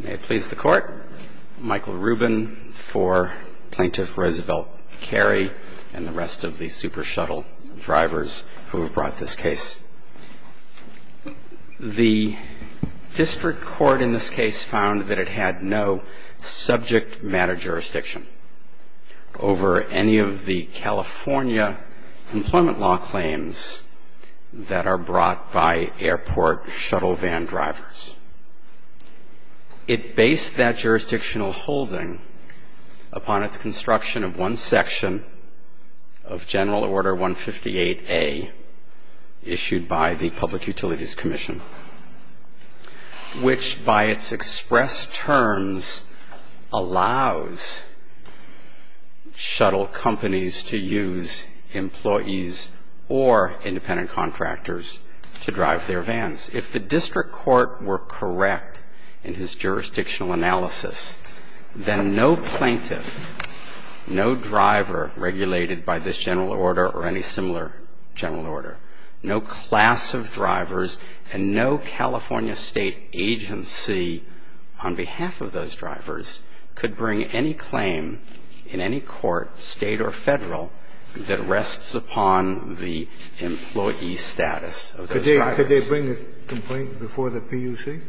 May it please the Court, Michael Rubin for Plaintiff Roosevelt Kairy and the rest of the Supershuttle drivers who have brought this case. The District Court in this case found that it had no subject matter jurisdiction over any of the California employment law claims that are brought by airport shuttle van drivers. It based that jurisdictional holding upon its construction of one section of General Order 158A issued by the Public Utilities Commission, which by its express terms allows shuttle companies to use employees or independent contractors to drive their vans. If the District Court were correct in its jurisdictional analysis, then no plaintiff, no driver regulated by this General Order or any similar General Order, no class of drivers and no California State agency on behalf of those drivers could bring any claim in any court, State or Federal, that rests upon the employee status of those drivers. Could they bring a complaint before the PUC?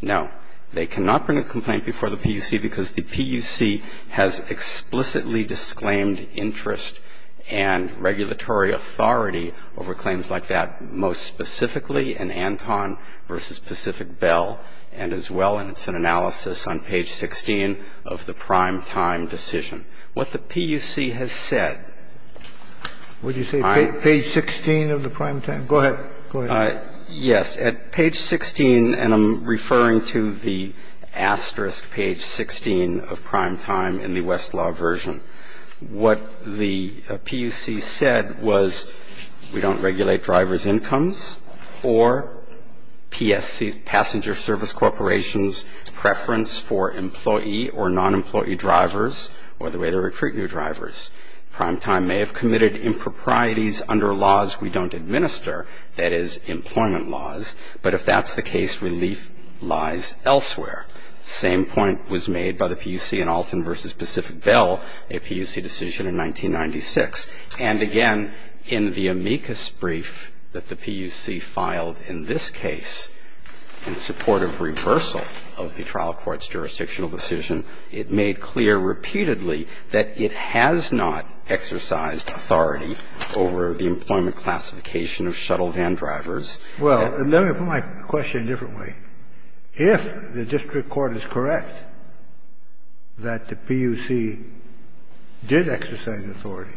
No. They cannot bring a complaint before the PUC because the PUC has explicitly disclaimed interest and regulatory authority over claims like that, most specifically in Anton v. Pacific Bell and as well. And it's an analysis on page 16 of the primetime decision. What the PUC has said – Would you say page 16 of the primetime? Go ahead. Yes. At page 16 – and I'm referring to the asterisk page 16 of primetime in the Westlaw version. What the PUC said was we don't regulate drivers' incomes or PSC, Passenger Service Corporation's, preference for employee or nonemployee drivers or the way they recruit new drivers. Primetime may have committed improprieties under laws we don't administer, that is, employment laws. But if that's the case, relief lies elsewhere. The same point was made by the PUC in Alton v. Pacific Bell, a PUC decision in 1996. And again, in the amicus brief that the PUC filed in this case in support of reversal of the trial court's jurisdictional decision, it made clear repeatedly that it has not exercised authority over the employment classification of shuttle van drivers. Well, let me put my question differently. If the district court is correct that the PUC did exercise authority,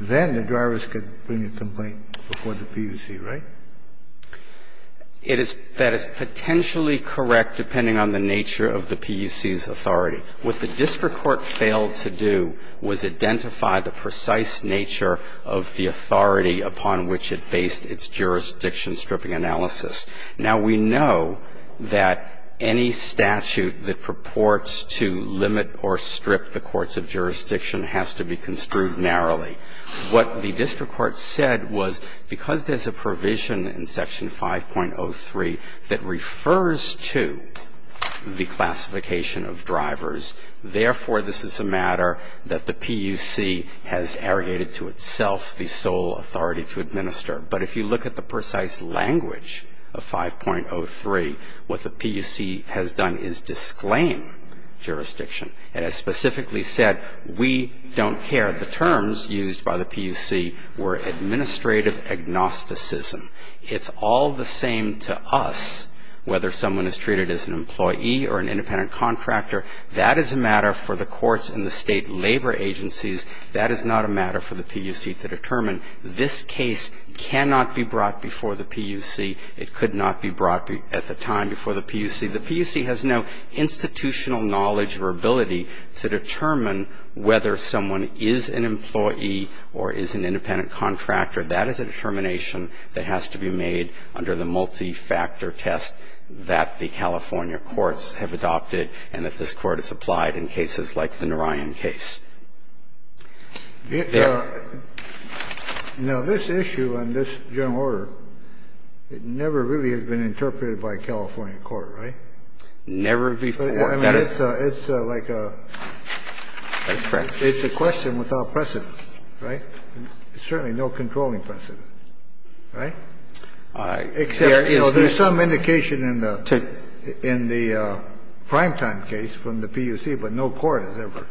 then the drivers could bring a complaint before the PUC, right? That is potentially correct, depending on the nature of the PUC's authority. What the district court failed to do was identify the precise nature of the authority upon which it based its jurisdiction stripping analysis. Now, we know that any statute that purports to limit or strip the courts of jurisdiction has to be construed narrowly. What the district court said was because there's a provision in Section 5.03 that refers to the classification of drivers, therefore, this is a matter that the PUC has arrogated to itself the sole authority to administer. But if you look at the precise language of 5.03, what the PUC has done is disclaim jurisdiction. And as specifically said, we don't care. The terms used by the PUC were administrative agnosticism. It's all the same to us whether someone is treated as an employee or an independent contractor. That is a matter for the courts and the state labor agencies. That is not a matter for the PUC to determine. This case cannot be brought before the PUC. It could not be brought at the time before the PUC. The PUC has no institutional knowledge or ability to determine whether someone is an employee or is an independent contractor. That is a determination that has to be made under the multi-factor test that the California courts have adopted and that this Court has applied in cases like the Narayan case. There. Now, this issue and this general order, it never really has been interpreted by a California court, right? Never before. That is. It's like a. That's correct. It's a question without precedent, right? There's certainly no controlling precedent, right? Except, you know, there's some indication in the primetime case from the PUC, but no court has ever.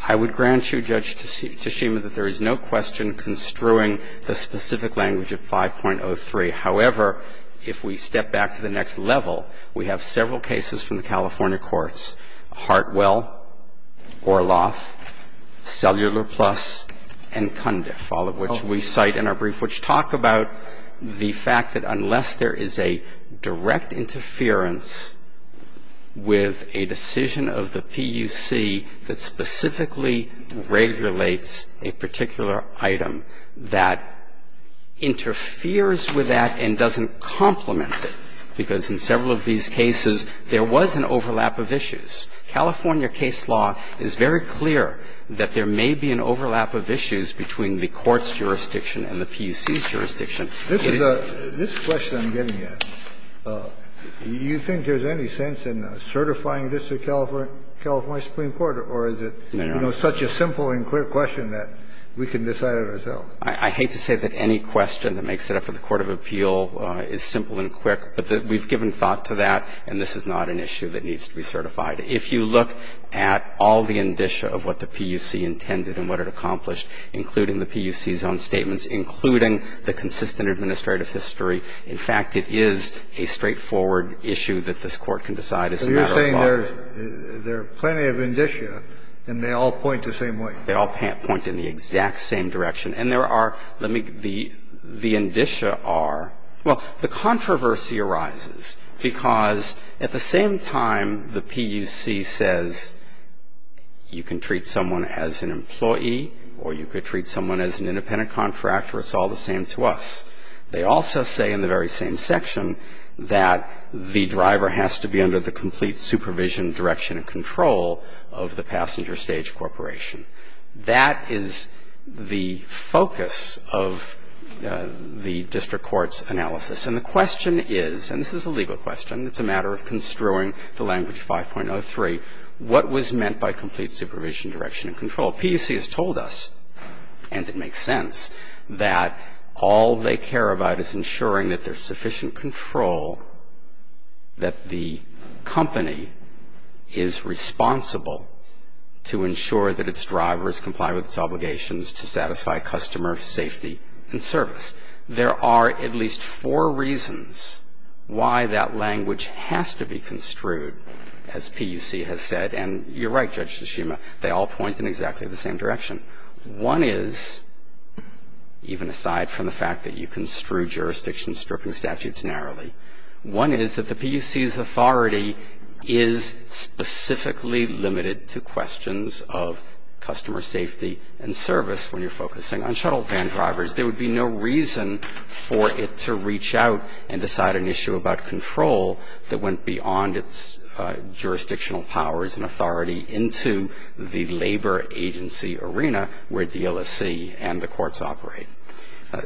I would grant you, Judge Tshishima, that there is no question construing the specific language of 5.03. However, if we step back to the next level, we have several cases from the California courts, Hartwell, Orloff, Cellular Plus, and Cundiff, all of which we cite in our brief, which talk about the fact that unless there is a direct interference with a decision of the PUC that specifically regulates a particular item that interferes with that and doesn't complement it, because in several of these cases there was an overlap of issues, California case law is very clear that there may be an overlap of issues between the court's jurisdiction and the PUC's jurisdiction. This is a question I'm getting at. You think there's any sense in certifying this to the California Supreme Court, or is it such a simple and clear question that we can decide it ourselves? I hate to say that any question that makes it up in the court of appeal is simple and quick, but we've given thought to that, and this is not an issue that needs to be certified. If you look at all the indicia of what the PUC intended and what it accomplished, including the PUC's own statements, including the consistent administrative history, in fact, it is a straightforward issue that this Court can decide as a matter of law. So you're saying there's plenty of indicia and they all point the same way? They all point in the exact same direction. And there are the indicia are, well, the controversy arises because at the same time the PUC says you can treat someone as an employee or you could treat someone as an independent contractor, it's all the same to us. They also say in the very same section that the driver has to be under the complete supervision, direction and control of the passenger stage corporation. That is the focus of the district court's analysis. And the question is, and this is a legal question, it's a matter of construing the language 5.03, what was meant by complete supervision, direction and control? PUC has told us, and it makes sense, that all they care about is ensuring that there's sufficient control, that the company is responsible to ensure that its drivers comply with its obligations to satisfy customer safety and service. There are at least four reasons why that language has to be construed, as PUC has said. And you're right, Judge Tsushima, they all point in exactly the same direction. One is, even aside from the fact that you construe jurisdiction stripping statutes narrowly, one is that the PUC's authority is specifically limited to questions of customer safety and service when you're focusing on shuttle van drivers. There would be no reason for it to reach out and decide an issue about control that went beyond its jurisdictional powers and authority into the labor agency arena where DLSC and the courts operate.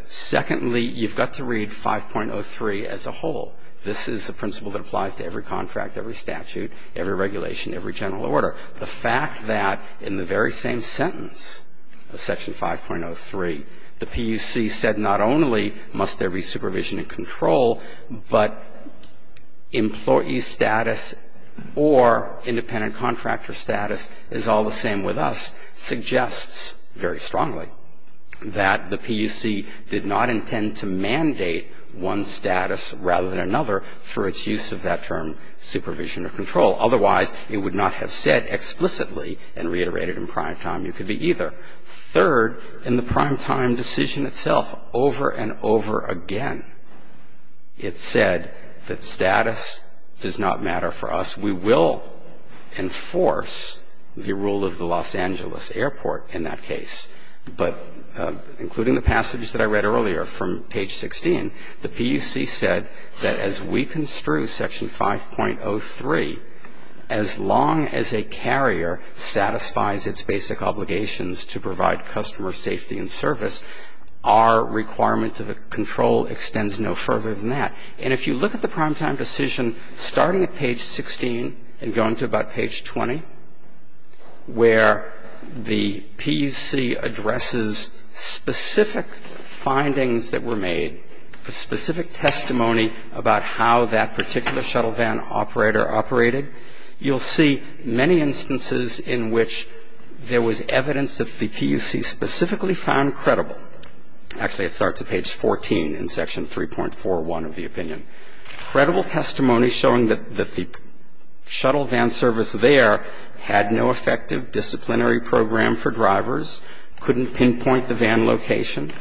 Secondly, you've got to read 5.03 as a whole. This is a principle that applies to every contract, every statute, every regulation, every general order. The fact that in the very same sentence of Section 5.03, the PUC said not only must there be supervision and control, but employee status or independent contractor status is all the same with us, suggests very strongly that the PUC did not intend to mandate one status rather than another through its use of that term supervision or control. Otherwise, it would not have said explicitly and reiterated in primetime you could be either. Third, in the primetime decision itself, over and over again, it said that status does not matter for us. We will enforce the rule of the Los Angeles Airport in that case. But including the passages that I read earlier from page 16, the PUC said that as we as a carrier satisfies its basic obligations to provide customer safety and service, our requirement of control extends no further than that. And if you look at the primetime decision starting at page 16 and going to about page 20 where the PUC addresses specific findings that were made, specific testimony about how that particular shuttle van operator operated, you'll see many instances in which there was evidence that the PUC specifically found credible. Actually, it starts at page 14 in Section 3.41 of the opinion. Credible testimony showing that the shuttle van service there had no effective disciplinary program for drivers, couldn't pinpoint the van location,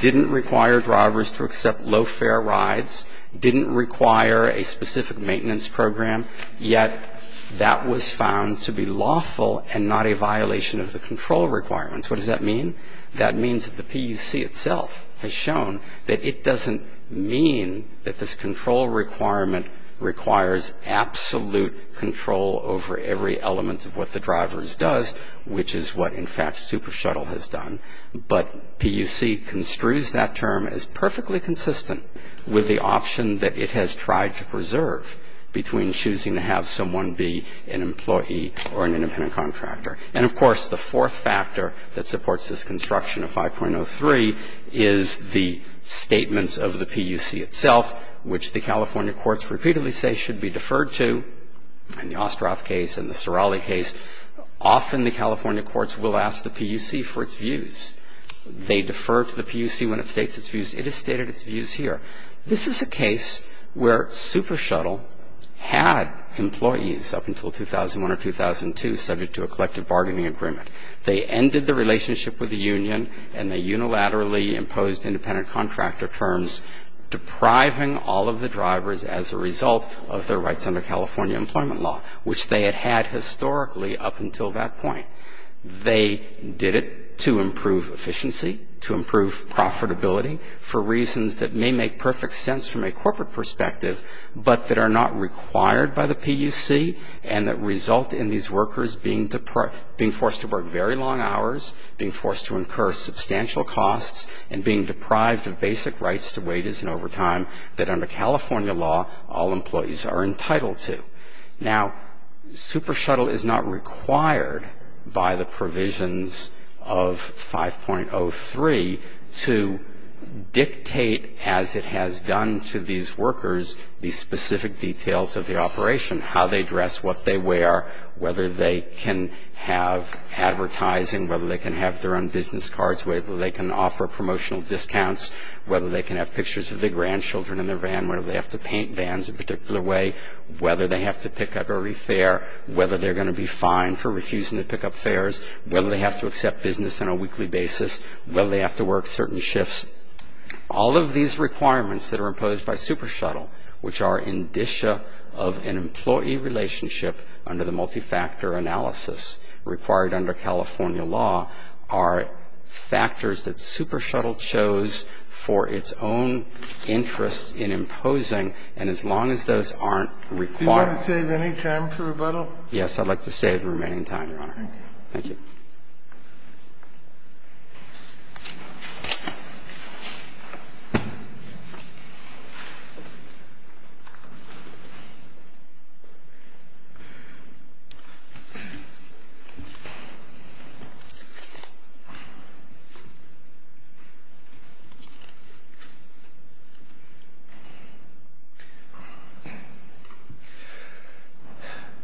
didn't require drivers to accept low fare rides, didn't require a specific maintenance program, yet that was found to be lawful and not a violation of the control requirements. What does that mean? That means that the PUC itself has shown that it doesn't mean that this control requirement requires absolute control over every element of what the driver does, which is what, in fact, SuperShuttle has done, but PUC construes that term as perfectly consistent with the option that it has tried to preserve between choosing to have someone be an employee or an independent contractor. And, of course, the fourth factor that supports this construction of 5.03 is the statements of the PUC itself, which the California courts repeatedly say should be deferred to in the Ostroff case and the PUC for its views. They defer to the PUC when it states its views. It has stated its views here. This is a case where SuperShuttle had employees up until 2001 or 2002 subject to a collective bargaining agreement. They ended the relationship with the union and they unilaterally imposed independent contractor terms, depriving all of the drivers as a result of their rights under California employment law, which they had had historically up until that point. They did it to improve efficiency, to improve profitability for reasons that may make perfect sense from a corporate perspective, but that are not required by the PUC and that result in these workers being forced to work very long hours, being forced to incur substantial costs, and being deprived of basic rights to wages and overtime that under California law all employees are entitled to. Now, SuperShuttle is not required by the provisions of 5.03 to dictate, as it has done to these workers, the specific details of the operation, how they dress, what they wear, whether they can have advertising, whether they can have their own business cards, whether they can offer promotional discounts, whether they can have pictures of their grandchildren in their van, whether they have to paint vans a particular way, whether they have to pick up or refare, whether they're going to be fined for refusing to pick up fares, whether they have to accept business on a weekly basis, whether they have to work certain shifts. All of these requirements that are imposed by SuperShuttle, which are indicia of an employee relationship under the multifactor analysis required under California law, are factors that SuperShuttle chose for its own interest in imposing, and as long as those aren't required. Do you want to save any time for rebuttal? Yes, I'd like to save the remaining time, Your Honor. Thank you. Thank you.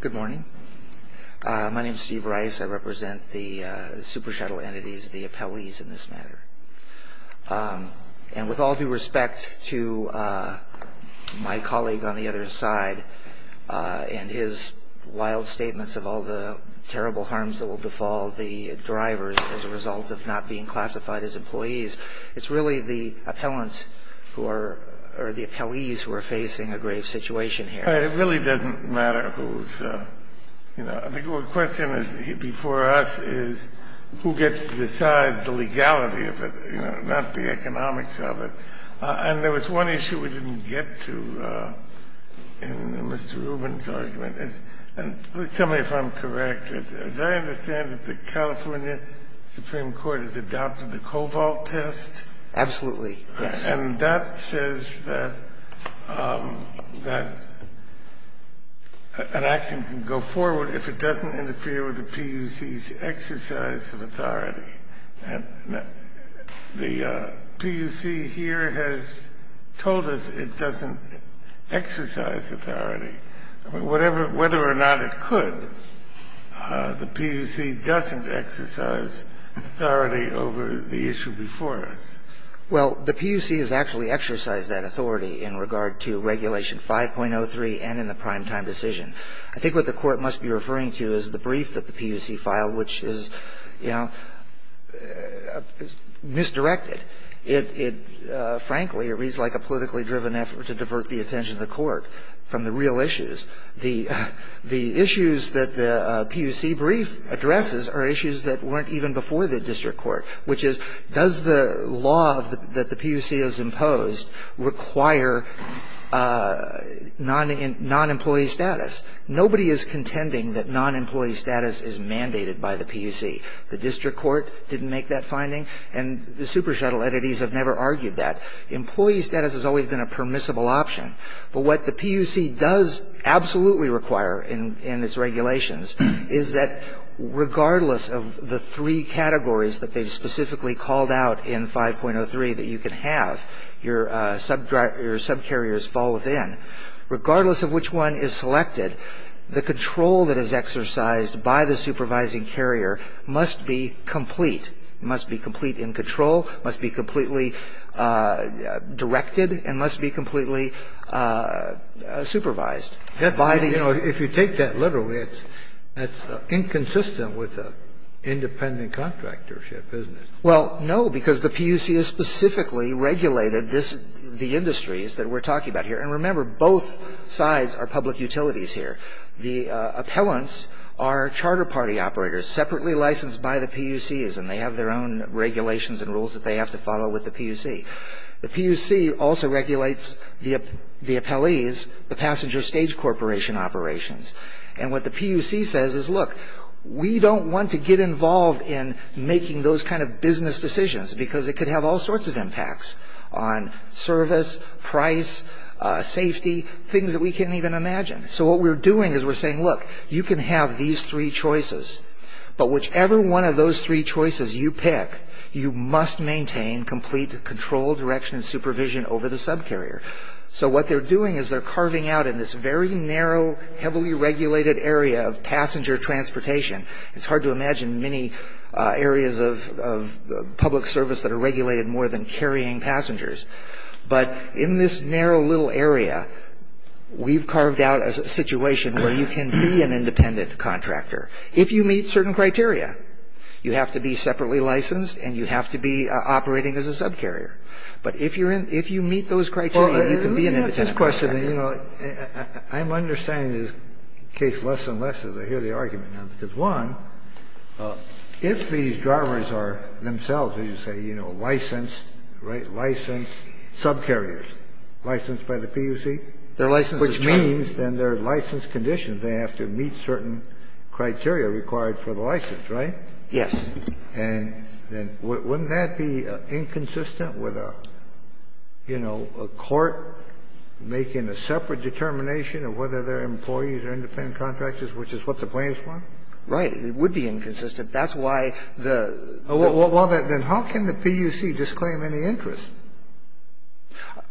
Good morning. My name is Steve Rice. I represent the SuperShuttle entities, the appellees in this matter. And with all due respect to my colleague on the other side and his wild statements of all the terrible harms that will befall the drivers as a result of not being classified as employees, it's really the appellants who are or the appellees who are facing a grave situation here. It really doesn't matter who's, you know. The question before us is who gets to decide the legality of it, you know, not the economics of it. And there was one issue we didn't get to in Mr. Rubin's argument, and please tell me if I'm correct. As I understand it, the California Supreme Court has adopted the Koval test. Absolutely, yes. And that says that an action can go forward if it doesn't interfere with the PUC's exercise of authority. And the PUC here has told us it doesn't exercise authority. I mean, whether or not it could, the PUC doesn't exercise authority over the issue before us. Well, the PUC has actually exercised that authority in regard to Regulation 5.03 and in the primetime decision. I think what the Court must be referring to is the brief that the PUC filed, which is, you know, misdirected. It frankly reads like a politically driven effort to divert the attention of the Court from the real issues. The issues that the PUC brief addresses are issues that weren't even before the district court, which is does the law that the PUC has imposed require non-employee status. Nobody is contending that non-employee status is mandated by the PUC. The district court didn't make that finding, and the super shuttle entities have never argued that. Employee status has always been a permissible option. But what the PUC does absolutely require in its regulations is that regardless of the three categories that they've specifically called out in 5.03 that you can have, your subcarriers fall within. And regardless of which one is selected, the control that is exercised by the supervising carrier must be complete. It must be complete in control, must be completely directed, and must be completely supervised. If you take that literally, that's inconsistent with independent contractorship, isn't it? Well, no, because the PUC has specifically regulated the industries that we're talking about here. And remember, both sides are public utilities here. The appellants are charter party operators separately licensed by the PUCs, and they have their own regulations and rules that they have to follow with the PUC. The PUC also regulates the appellees, the passenger stage corporation operations. And what the PUC says is, look, we don't want to get involved in making those kind of business decisions because it could have all sorts of impacts on service, price, safety, things that we can't even imagine. So what we're doing is we're saying, look, you can have these three choices, but whichever one of those three choices you pick, you must maintain complete control, direction, and supervision over the subcarrier. So what they're doing is they're carving out in this very narrow, heavily regulated area of passenger transportation. It's hard to imagine many areas of public service that are regulated more than carrying passengers. But in this narrow little area, we've carved out a situation where you can be an independent contractor if you meet certain criteria. You have to be separately licensed and you have to be operating as a subcarrier. But if you're in – if you meet those criteria, you can be an independent contractor. Kennedy. I'm not sure if I'm understanding this question. I'm understanding this case less and less as I hear the argument now, because one, if these drivers are themselves, as you say, you know, licensed, right, licensed subcarriers, licensed by the PUC, which means then their license conditions, they have to meet certain criteria required for the license, right? Yes. And then wouldn't that be inconsistent with a, you know, a court making a separate determination of whether they're employees or independent contractors, which is what the plaintiffs want? Right. It would be inconsistent. That's why the – Well, then how can the PUC disclaim any interest?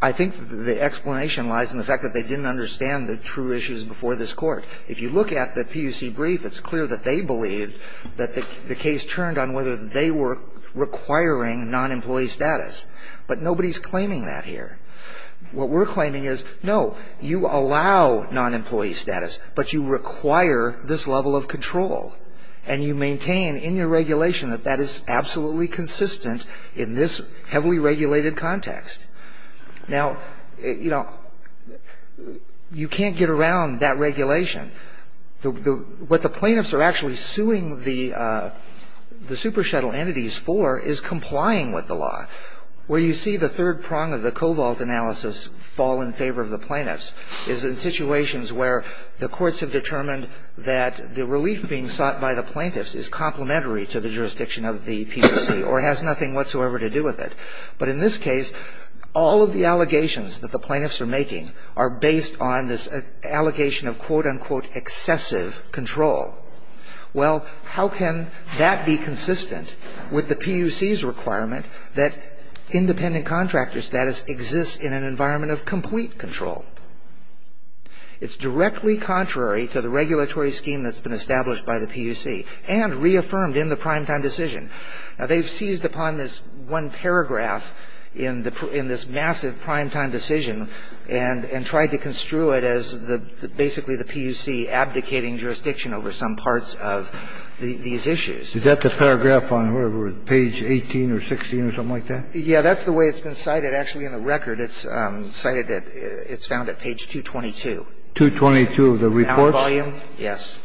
I think the explanation lies in the fact that they didn't understand the true issues before this Court. If you look at the PUC brief, it's clear that they believed that the case turned on whether they were requiring non-employee status. But nobody's claiming that here. What we're claiming is, no, you allow non-employee status, but you require this level of control. And you maintain in your regulation that that is absolutely consistent in this heavily regulated context. Now, you know, you can't get around that regulation. What the plaintiffs are actually suing the super shuttle entities for is complying with the law. Where you see the third prong of the cobalt analysis fall in favor of the plaintiffs is in situations where the courts have determined that the relief being sought by the plaintiffs is complementary to the jurisdiction of the PUC or has nothing whatsoever to do with it. But in this case, all of the allegations that the plaintiffs are making are based on this allegation of quote-unquote excessive control. Well, how can that be consistent with the PUC's requirement that independent contractor status exists in an environment of complete control? It's directly contrary to the regulatory scheme that's been established by the PUC and reaffirmed in the primetime decision. Now, they've seized upon this one paragraph in this massive primetime decision and tried to construe it as basically the PUC abdicating jurisdiction over some parts of these issues. Is that the paragraph on page 18 or 16 or something like that? Yeah. That's the way it's been cited. Actually, in the record, it's cited at – it's found at page 222. 222 of the report? Now volume? Yes.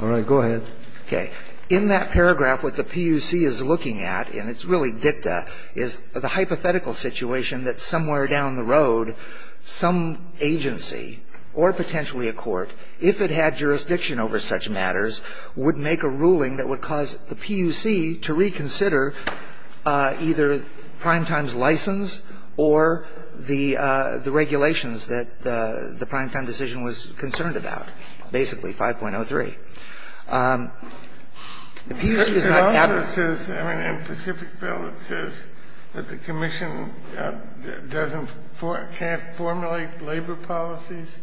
All right. Go ahead. Okay. In that paragraph, what the PUC is looking at, and it's really dicta, is the hypothetical situation that somewhere down the road some agency or potentially a court, if it had jurisdiction over such matters, would make a ruling that would cause the PUC to reconsider either primetime's license or the regulations that the primetime decision was concerned about, basically 5.03. The PUC does not address this. I mean, in Pacific Bill, it says that the commission doesn't – can't formulate labor policies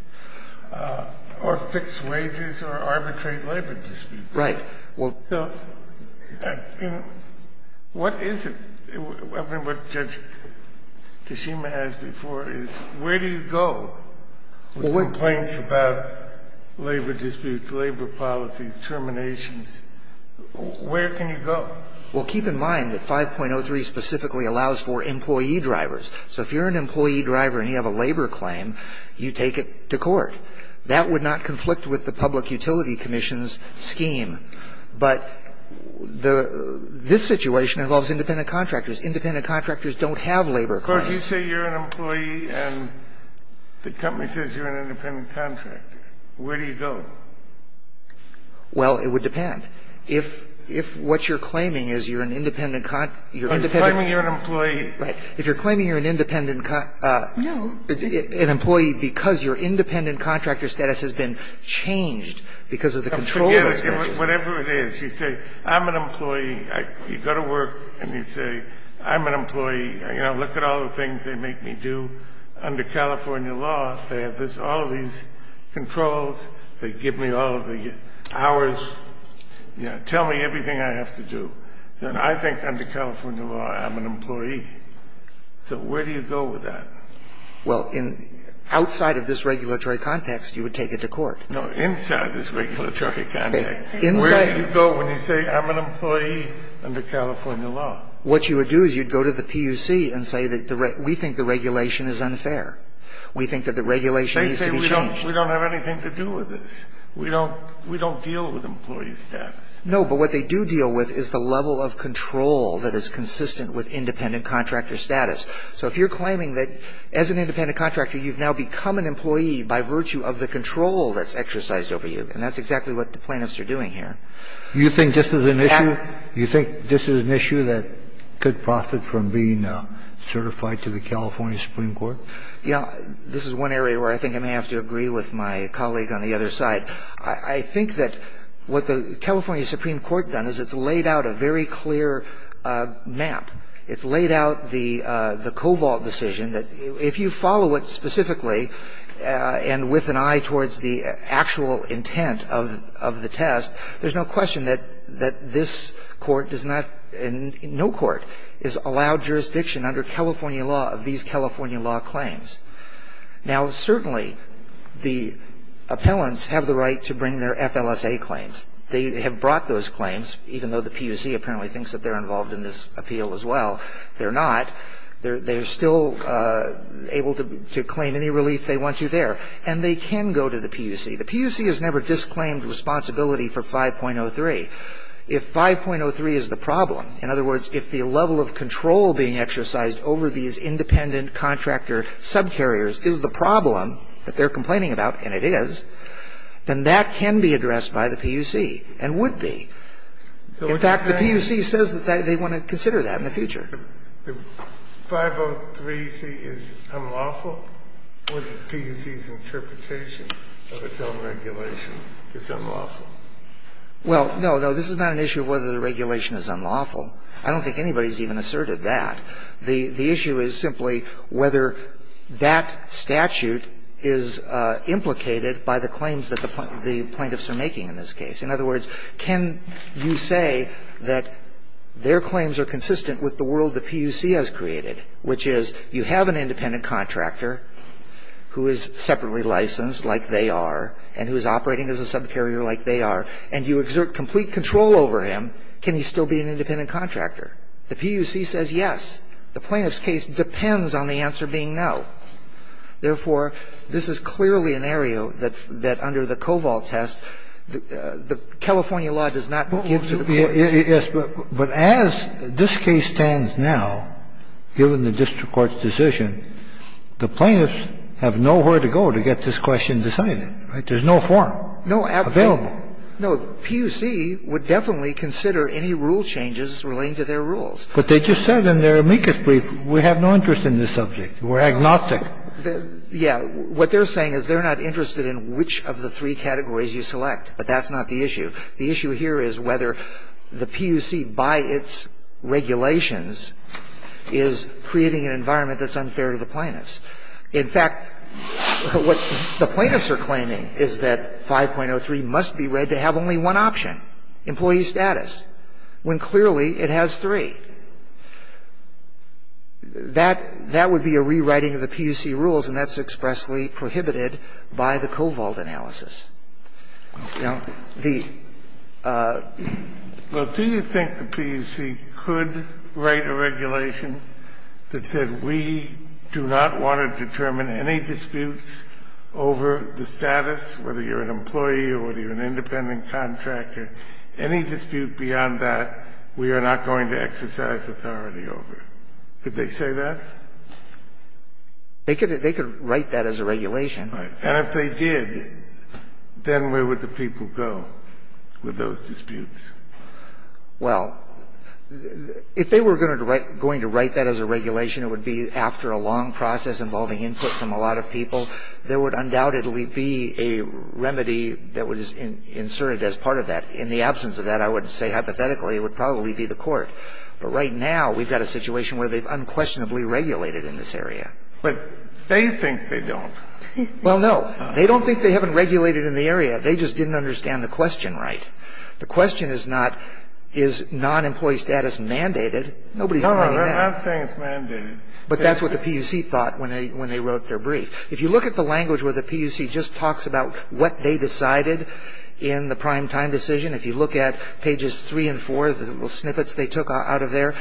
or fix wages or arbitrate labor disputes. Right. Well, so, you know, what is it? I mean, what Judge Tashima has before is where do you go with complaints about labor disputes, labor policies, terminations? Where can you go? Well, keep in mind that 5.03 specifically allows for employee drivers. So if you're an employee driver and you have a labor claim, you take it to court. That would not conflict with the Public Utility Commission's scheme. But the – this situation involves independent contractors. Independent contractors don't have labor claims. Of course, you say you're an employee and the company says you're an independent contractor. Where do you go? Well, it would depend. If what you're claiming is you're an independent – you're independent – I'm claiming you're an employee. Right. If you're claiming you're an independent – An employee because your independent contractor status has been changed because of the control of this commission. Now, forget it. Whatever it is, you say I'm an employee. You go to work and you say I'm an employee. You know, look at all the things they make me do under California law. They have this – all of these controls. They give me all of the hours. You know, tell me everything I have to do. And I think under California law I'm an employee. So where do you go with that? Well, in – outside of this regulatory context, you would take it to court. No, inside this regulatory context. Inside. Where do you go when you say I'm an employee under California law? What you would do is you'd go to the PUC and say that we think the regulation is unfair. We think that the regulation needs to be changed. They say we don't have anything to do with this. We don't deal with employee status. No, but what they do deal with is the level of control that is consistent with independent contractor status. So if you're claiming that as an independent contractor you've now become an employee by virtue of the control that's exercised over you, and that's exactly what the California Supreme Court has done, it's laid out a very clear map. It's laid out the cobalt decision that if you follow it specifically and with an eye towards the actual intent of the test, there's no question that the California law claims. Now, certainly the appellants have the right to bring their FLSA claims. They have brought those claims, even though the PUC apparently thinks that they're involved in this appeal as well. They're not. They're still able to claim any relief they want you there. And they can go to the PUC. The PUC has never disclaimed responsibility for 5.03. If 5.03 is the problem, in other words, if the level of control being exercised over these independent contractor subcarriers is the problem that they're complaining about, and it is, then that can be addressed by the PUC and would be. In fact, the PUC says that they want to consider that in the future. The 503c is unlawful? Would the PUC's interpretation of its own regulation is unlawful? Well, no, no, this is not an issue of whether the regulation is unlawful. I don't think anybody's even asserted that. The issue is simply whether that statute is implicated by the claims that the plaintiffs are making in this case. In other words, can you say that their claims are consistent with the world the PUC has created, which is you have an independent contractor who is separately licensed like they are and who is operating as a subcarrier like they are, and you exert complete control over him, can he still be an independent contractor? The PUC says yes. The plaintiff's case depends on the answer being no. Therefore, this is clearly an area that under the COVALT test, the California law does not give to the courts. Yes, but as this case stands now, given the district court's decision, the plaintiffs have nowhere to go to get this question decided, right? There's no forum available. No, absolutely. No, the PUC would definitely consider any rule changes relating to their rules. But they just said in their amicus brief we have no interest in this subject. We're agnostic. Yeah. What they're saying is they're not interested in which of the three categories you select, but that's not the issue. The issue here is whether the PUC, by its regulations, is creating an environment that's unfair to the plaintiffs. In fact, what the plaintiffs are claiming is that 5.03 must be read to have only one option, employee status, when clearly it has three. That would be a rewriting of the PUC rules, and that's expressly prohibited by the COVALT analysis. Now, the ---- The PUC could write a regulation that said we do not want to determine any disputes over the status, whether you're an employee or whether you're an independent contractor. Any dispute beyond that, we are not going to exercise authority over. Could they say that? They could write that as a regulation. Right. And if they did, then where would the people go with those disputes? Well, if they were going to write that as a regulation, it would be after a long process involving input from a lot of people. There would undoubtedly be a remedy that was inserted as part of that. In the absence of that, I would say hypothetically it would probably be the court. But right now we've got a situation where they've unquestionably regulated in this area. But they think they don't. Well, no. They don't think they haven't regulated in the area. They just didn't understand the question right. The question is not is non-employee status mandated. Nobody's claiming that. No, no. I'm saying it's mandated. But that's what the PUC thought when they wrote their brief. If you look at the language where the PUC just talks about what they decided in the prime time decision, if you look at pages three and four, the little snippets they took out of there,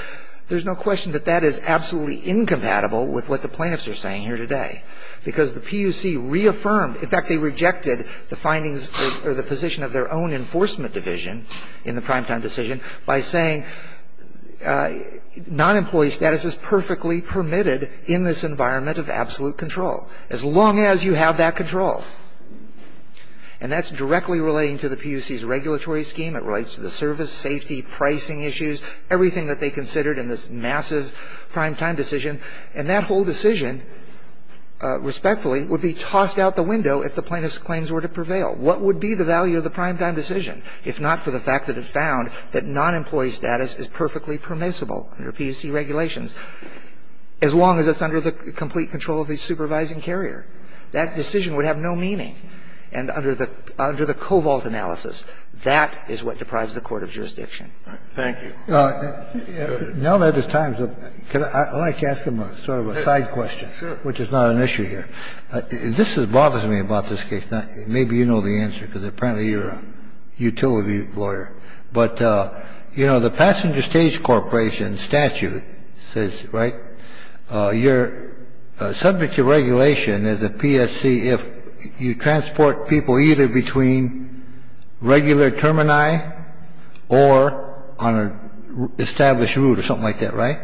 there's no question that that is absolutely incompatible with what the plaintiffs are saying here today, because the PUC reaffirmed In fact, they rejected the findings or the position of their own enforcement division in the prime time decision by saying non-employee status is perfectly permitted in this environment of absolute control, as long as you have that control. And that's directly relating to the PUC's regulatory scheme. It relates to the service, safety, pricing issues, everything that they considered in this massive prime time decision. And that whole decision, respectfully, would be tossed out the window if the plaintiffs' claims were to prevail. What would be the value of the prime time decision if not for the fact that it found that non-employee status is perfectly permissible under PUC regulations, as long as it's under the complete control of the supervising carrier? That decision would have no meaning. And under the covault analysis, that is what deprives the court of jurisdiction. Thank you. Now that it's time, I'd like to ask him sort of a side question, which is not an issue here. This bothers me about this case. Maybe you know the answer, because apparently you're a utility lawyer. But, you know, the Passenger Stage Corporation statute says, right, you're subject to regulation as a PSC if you transport people either between regular termini or on an established route or something like that, right?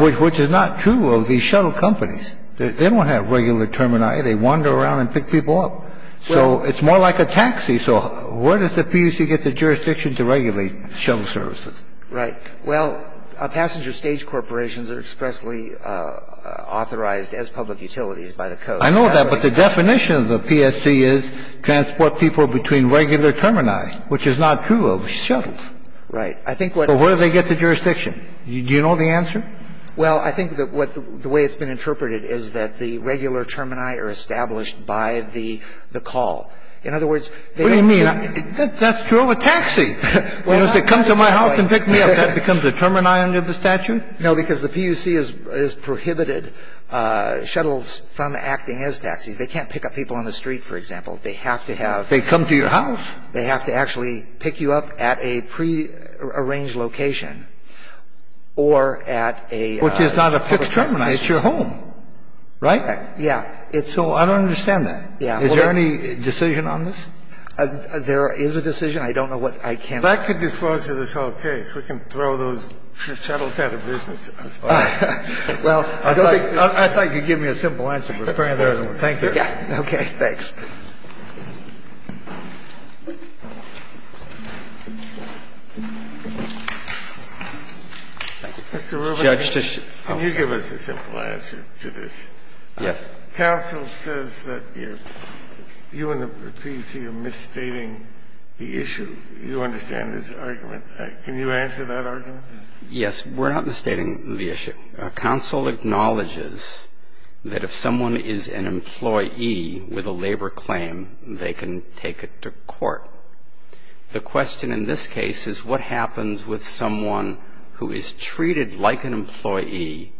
Which is not true of these shuttle companies. They don't have regular termini. They wander around and pick people up. So it's more like a taxi. So where does the PUC get the jurisdiction to regulate shuttle services? Right. Well, Passenger Stage Corporations are expressly authorized as public utilities by the coast. I know that, but the definition of the PSC is transport people between regular termini, which is not true of shuttles. Right. So where do they get the jurisdiction? Do you know the answer? Well, I think that what the way it's been interpreted is that the regular termini are established by the call. In other words, they don't need to be on the road. What do you mean? That's true of a taxi. If they come to my house and pick me up, that becomes a termini under the statute? No, because the PUC has prohibited shuttles from acting as taxis. They can't pick up people on the street, for example. They have to have. They come to your house. They have to actually pick you up at a prearranged location or at a public termini. Which is not a fixed termini. It's your home. Right? Yeah. So I don't understand that. Is there any decision on this? There is a decision. I don't know what I can. Well, that could disclose to this whole case. We can throw those shuttles out of business. Well, I thought you'd give me a simple answer, but apparently there isn't one. Thank you. Okay. Thanks. Mr. Rubenstein. Can you give us a simple answer to this? Yes. Counsel says that you and the PUC are misstating the issue. You understand this argument. Can you answer that argument? Yes. We're not misstating the issue. Counsel acknowledges that if someone is an employee with a labor claim, they can take it to court. The question in this case is what happens with someone who is treated like an employee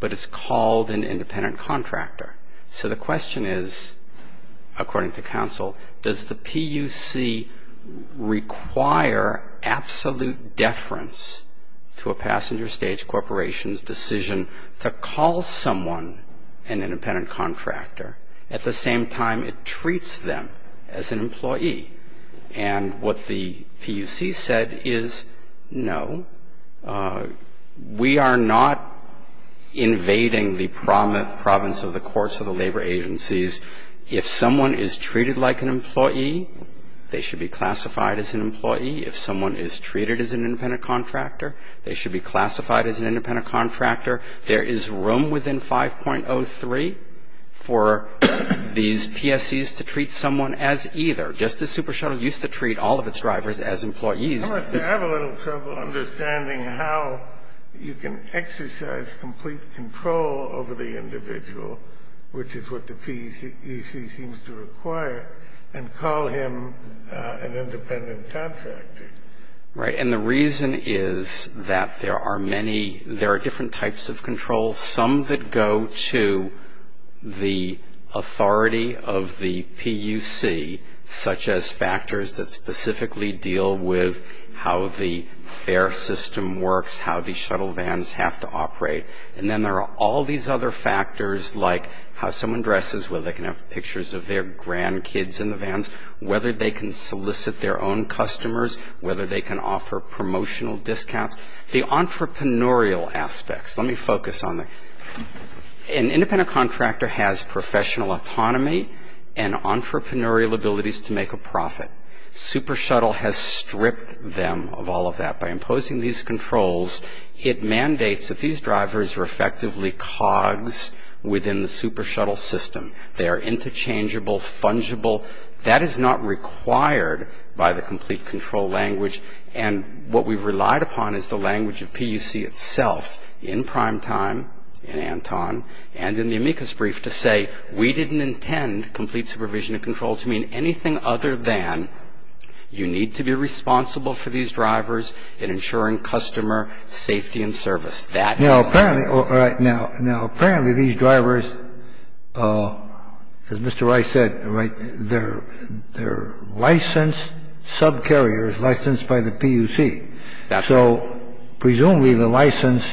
but is called an independent contractor. So the question is, according to counsel, does the PUC require absolute deference to a passenger stage corporation's decision to call someone an independent contractor at the same time it treats them as an employee? And what the PUC said is no. We are not invading the province of the courts or the labor agencies. If someone is treated like an employee, they should be classified as an employee. If someone is treated as an independent contractor, they should be classified as an independent contractor. There is room within 5.03 for these PSCs to treat someone as either. Just as Super Shuttle used to treat all of its drivers as employees. Unless they have a little trouble understanding how you can exercise complete control over the individual, which is what the PUC seems to require, and call him an independent contractor. Right. And the reason is that there are many. There are different types of controls, some that go to the authority of the PUC, such as factors that specifically deal with how the fare system works, how the shuttle vans have to operate. And then there are all these other factors like how someone dresses, whether they can have pictures of their grandkids in the vans, whether they can solicit their own customers, whether they can offer promotional discounts. The entrepreneurial aspects. Let me focus on that. An independent contractor has professional autonomy and entrepreneurial abilities to make a profit. Super Shuttle has stripped them of all of that by imposing these controls. It mandates that these drivers are effectively cogs within the Super Shuttle system. They are interchangeable, fungible. That is not required by the complete control language. And what we've relied upon is the language of PUC itself in primetime, in Anton, and in the amicus brief to say we didn't intend complete supervision and control to mean anything other than you need to be responsible for these drivers in ensuring customer safety and service. That is the language. Now, apparently these drivers, as Mr. Rice said, they're licensed subcarriers, licensed by the PUC. So presumably the license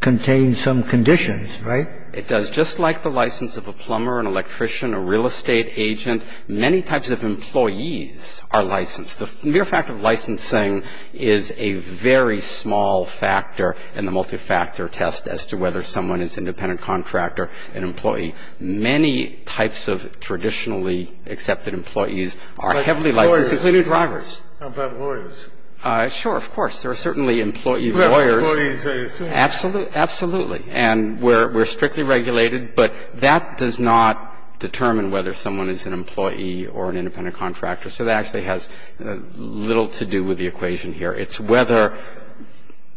contains some conditions, right? It does. Just like the license of a plumber, an electrician, a real estate agent, many types of employees are licensed. The mere fact of licensing is a very small factor in the multifactor test as to whether someone is an independent contractor, an employee. Many types of traditionally accepted employees are heavily licensed, including drivers. Well, there's a question about lawyers. How about lawyers? Sure. Of course. There are certainly employee lawyers. Employees. Absolutely. Absolutely. And we're strictly regulated. But that does not determine whether someone is an employee or an independent contractor. So that actually has little to do with the equation here. It's whether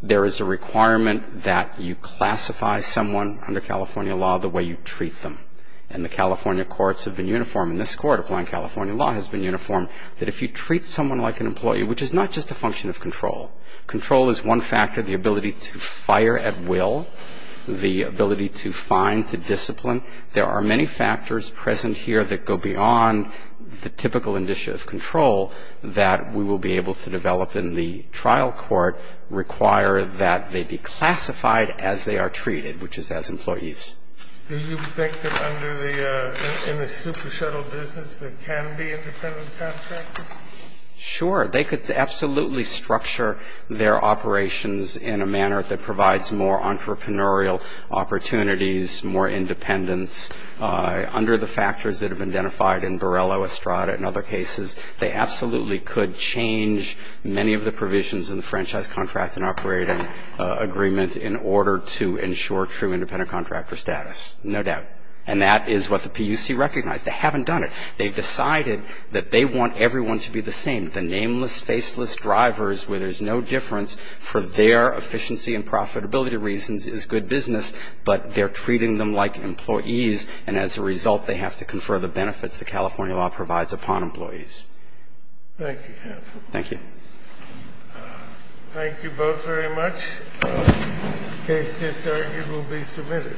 there is a requirement that you classify someone under California law the way you treat them. And the California courts have been uniform. And this Court, applying California law, has been uniform, that if you treat someone like an employee, which is not just a function of control. Control is one factor, the ability to fire at will, the ability to find, to discipline. There are many factors present here that go beyond the typical initiative of control that we will be able to develop in the trial court require that they be classified as they are treated, which is as employees. Do you think that under the super shuttle business there can be independent contractors? Sure. They could absolutely structure their operations in a manner that provides more entrepreneurial opportunities, more independence. Under the factors that have been identified in Borrello, Estrada, and other cases, they absolutely could change many of the provisions in the franchise contract and operating agreement in order to ensure true independent contractor status. No doubt. And that is what the PUC recognized. They haven't done it. They've decided that they want everyone to be the same. The nameless, faceless drivers where there's no difference for their efficiency and profitability reasons is good business, but they're treating them like employees, and as a result they have to confer the benefits that California law provides upon employees. Thank you, counsel. Thank you. Thank you both very much. Case to start, it will be submitted.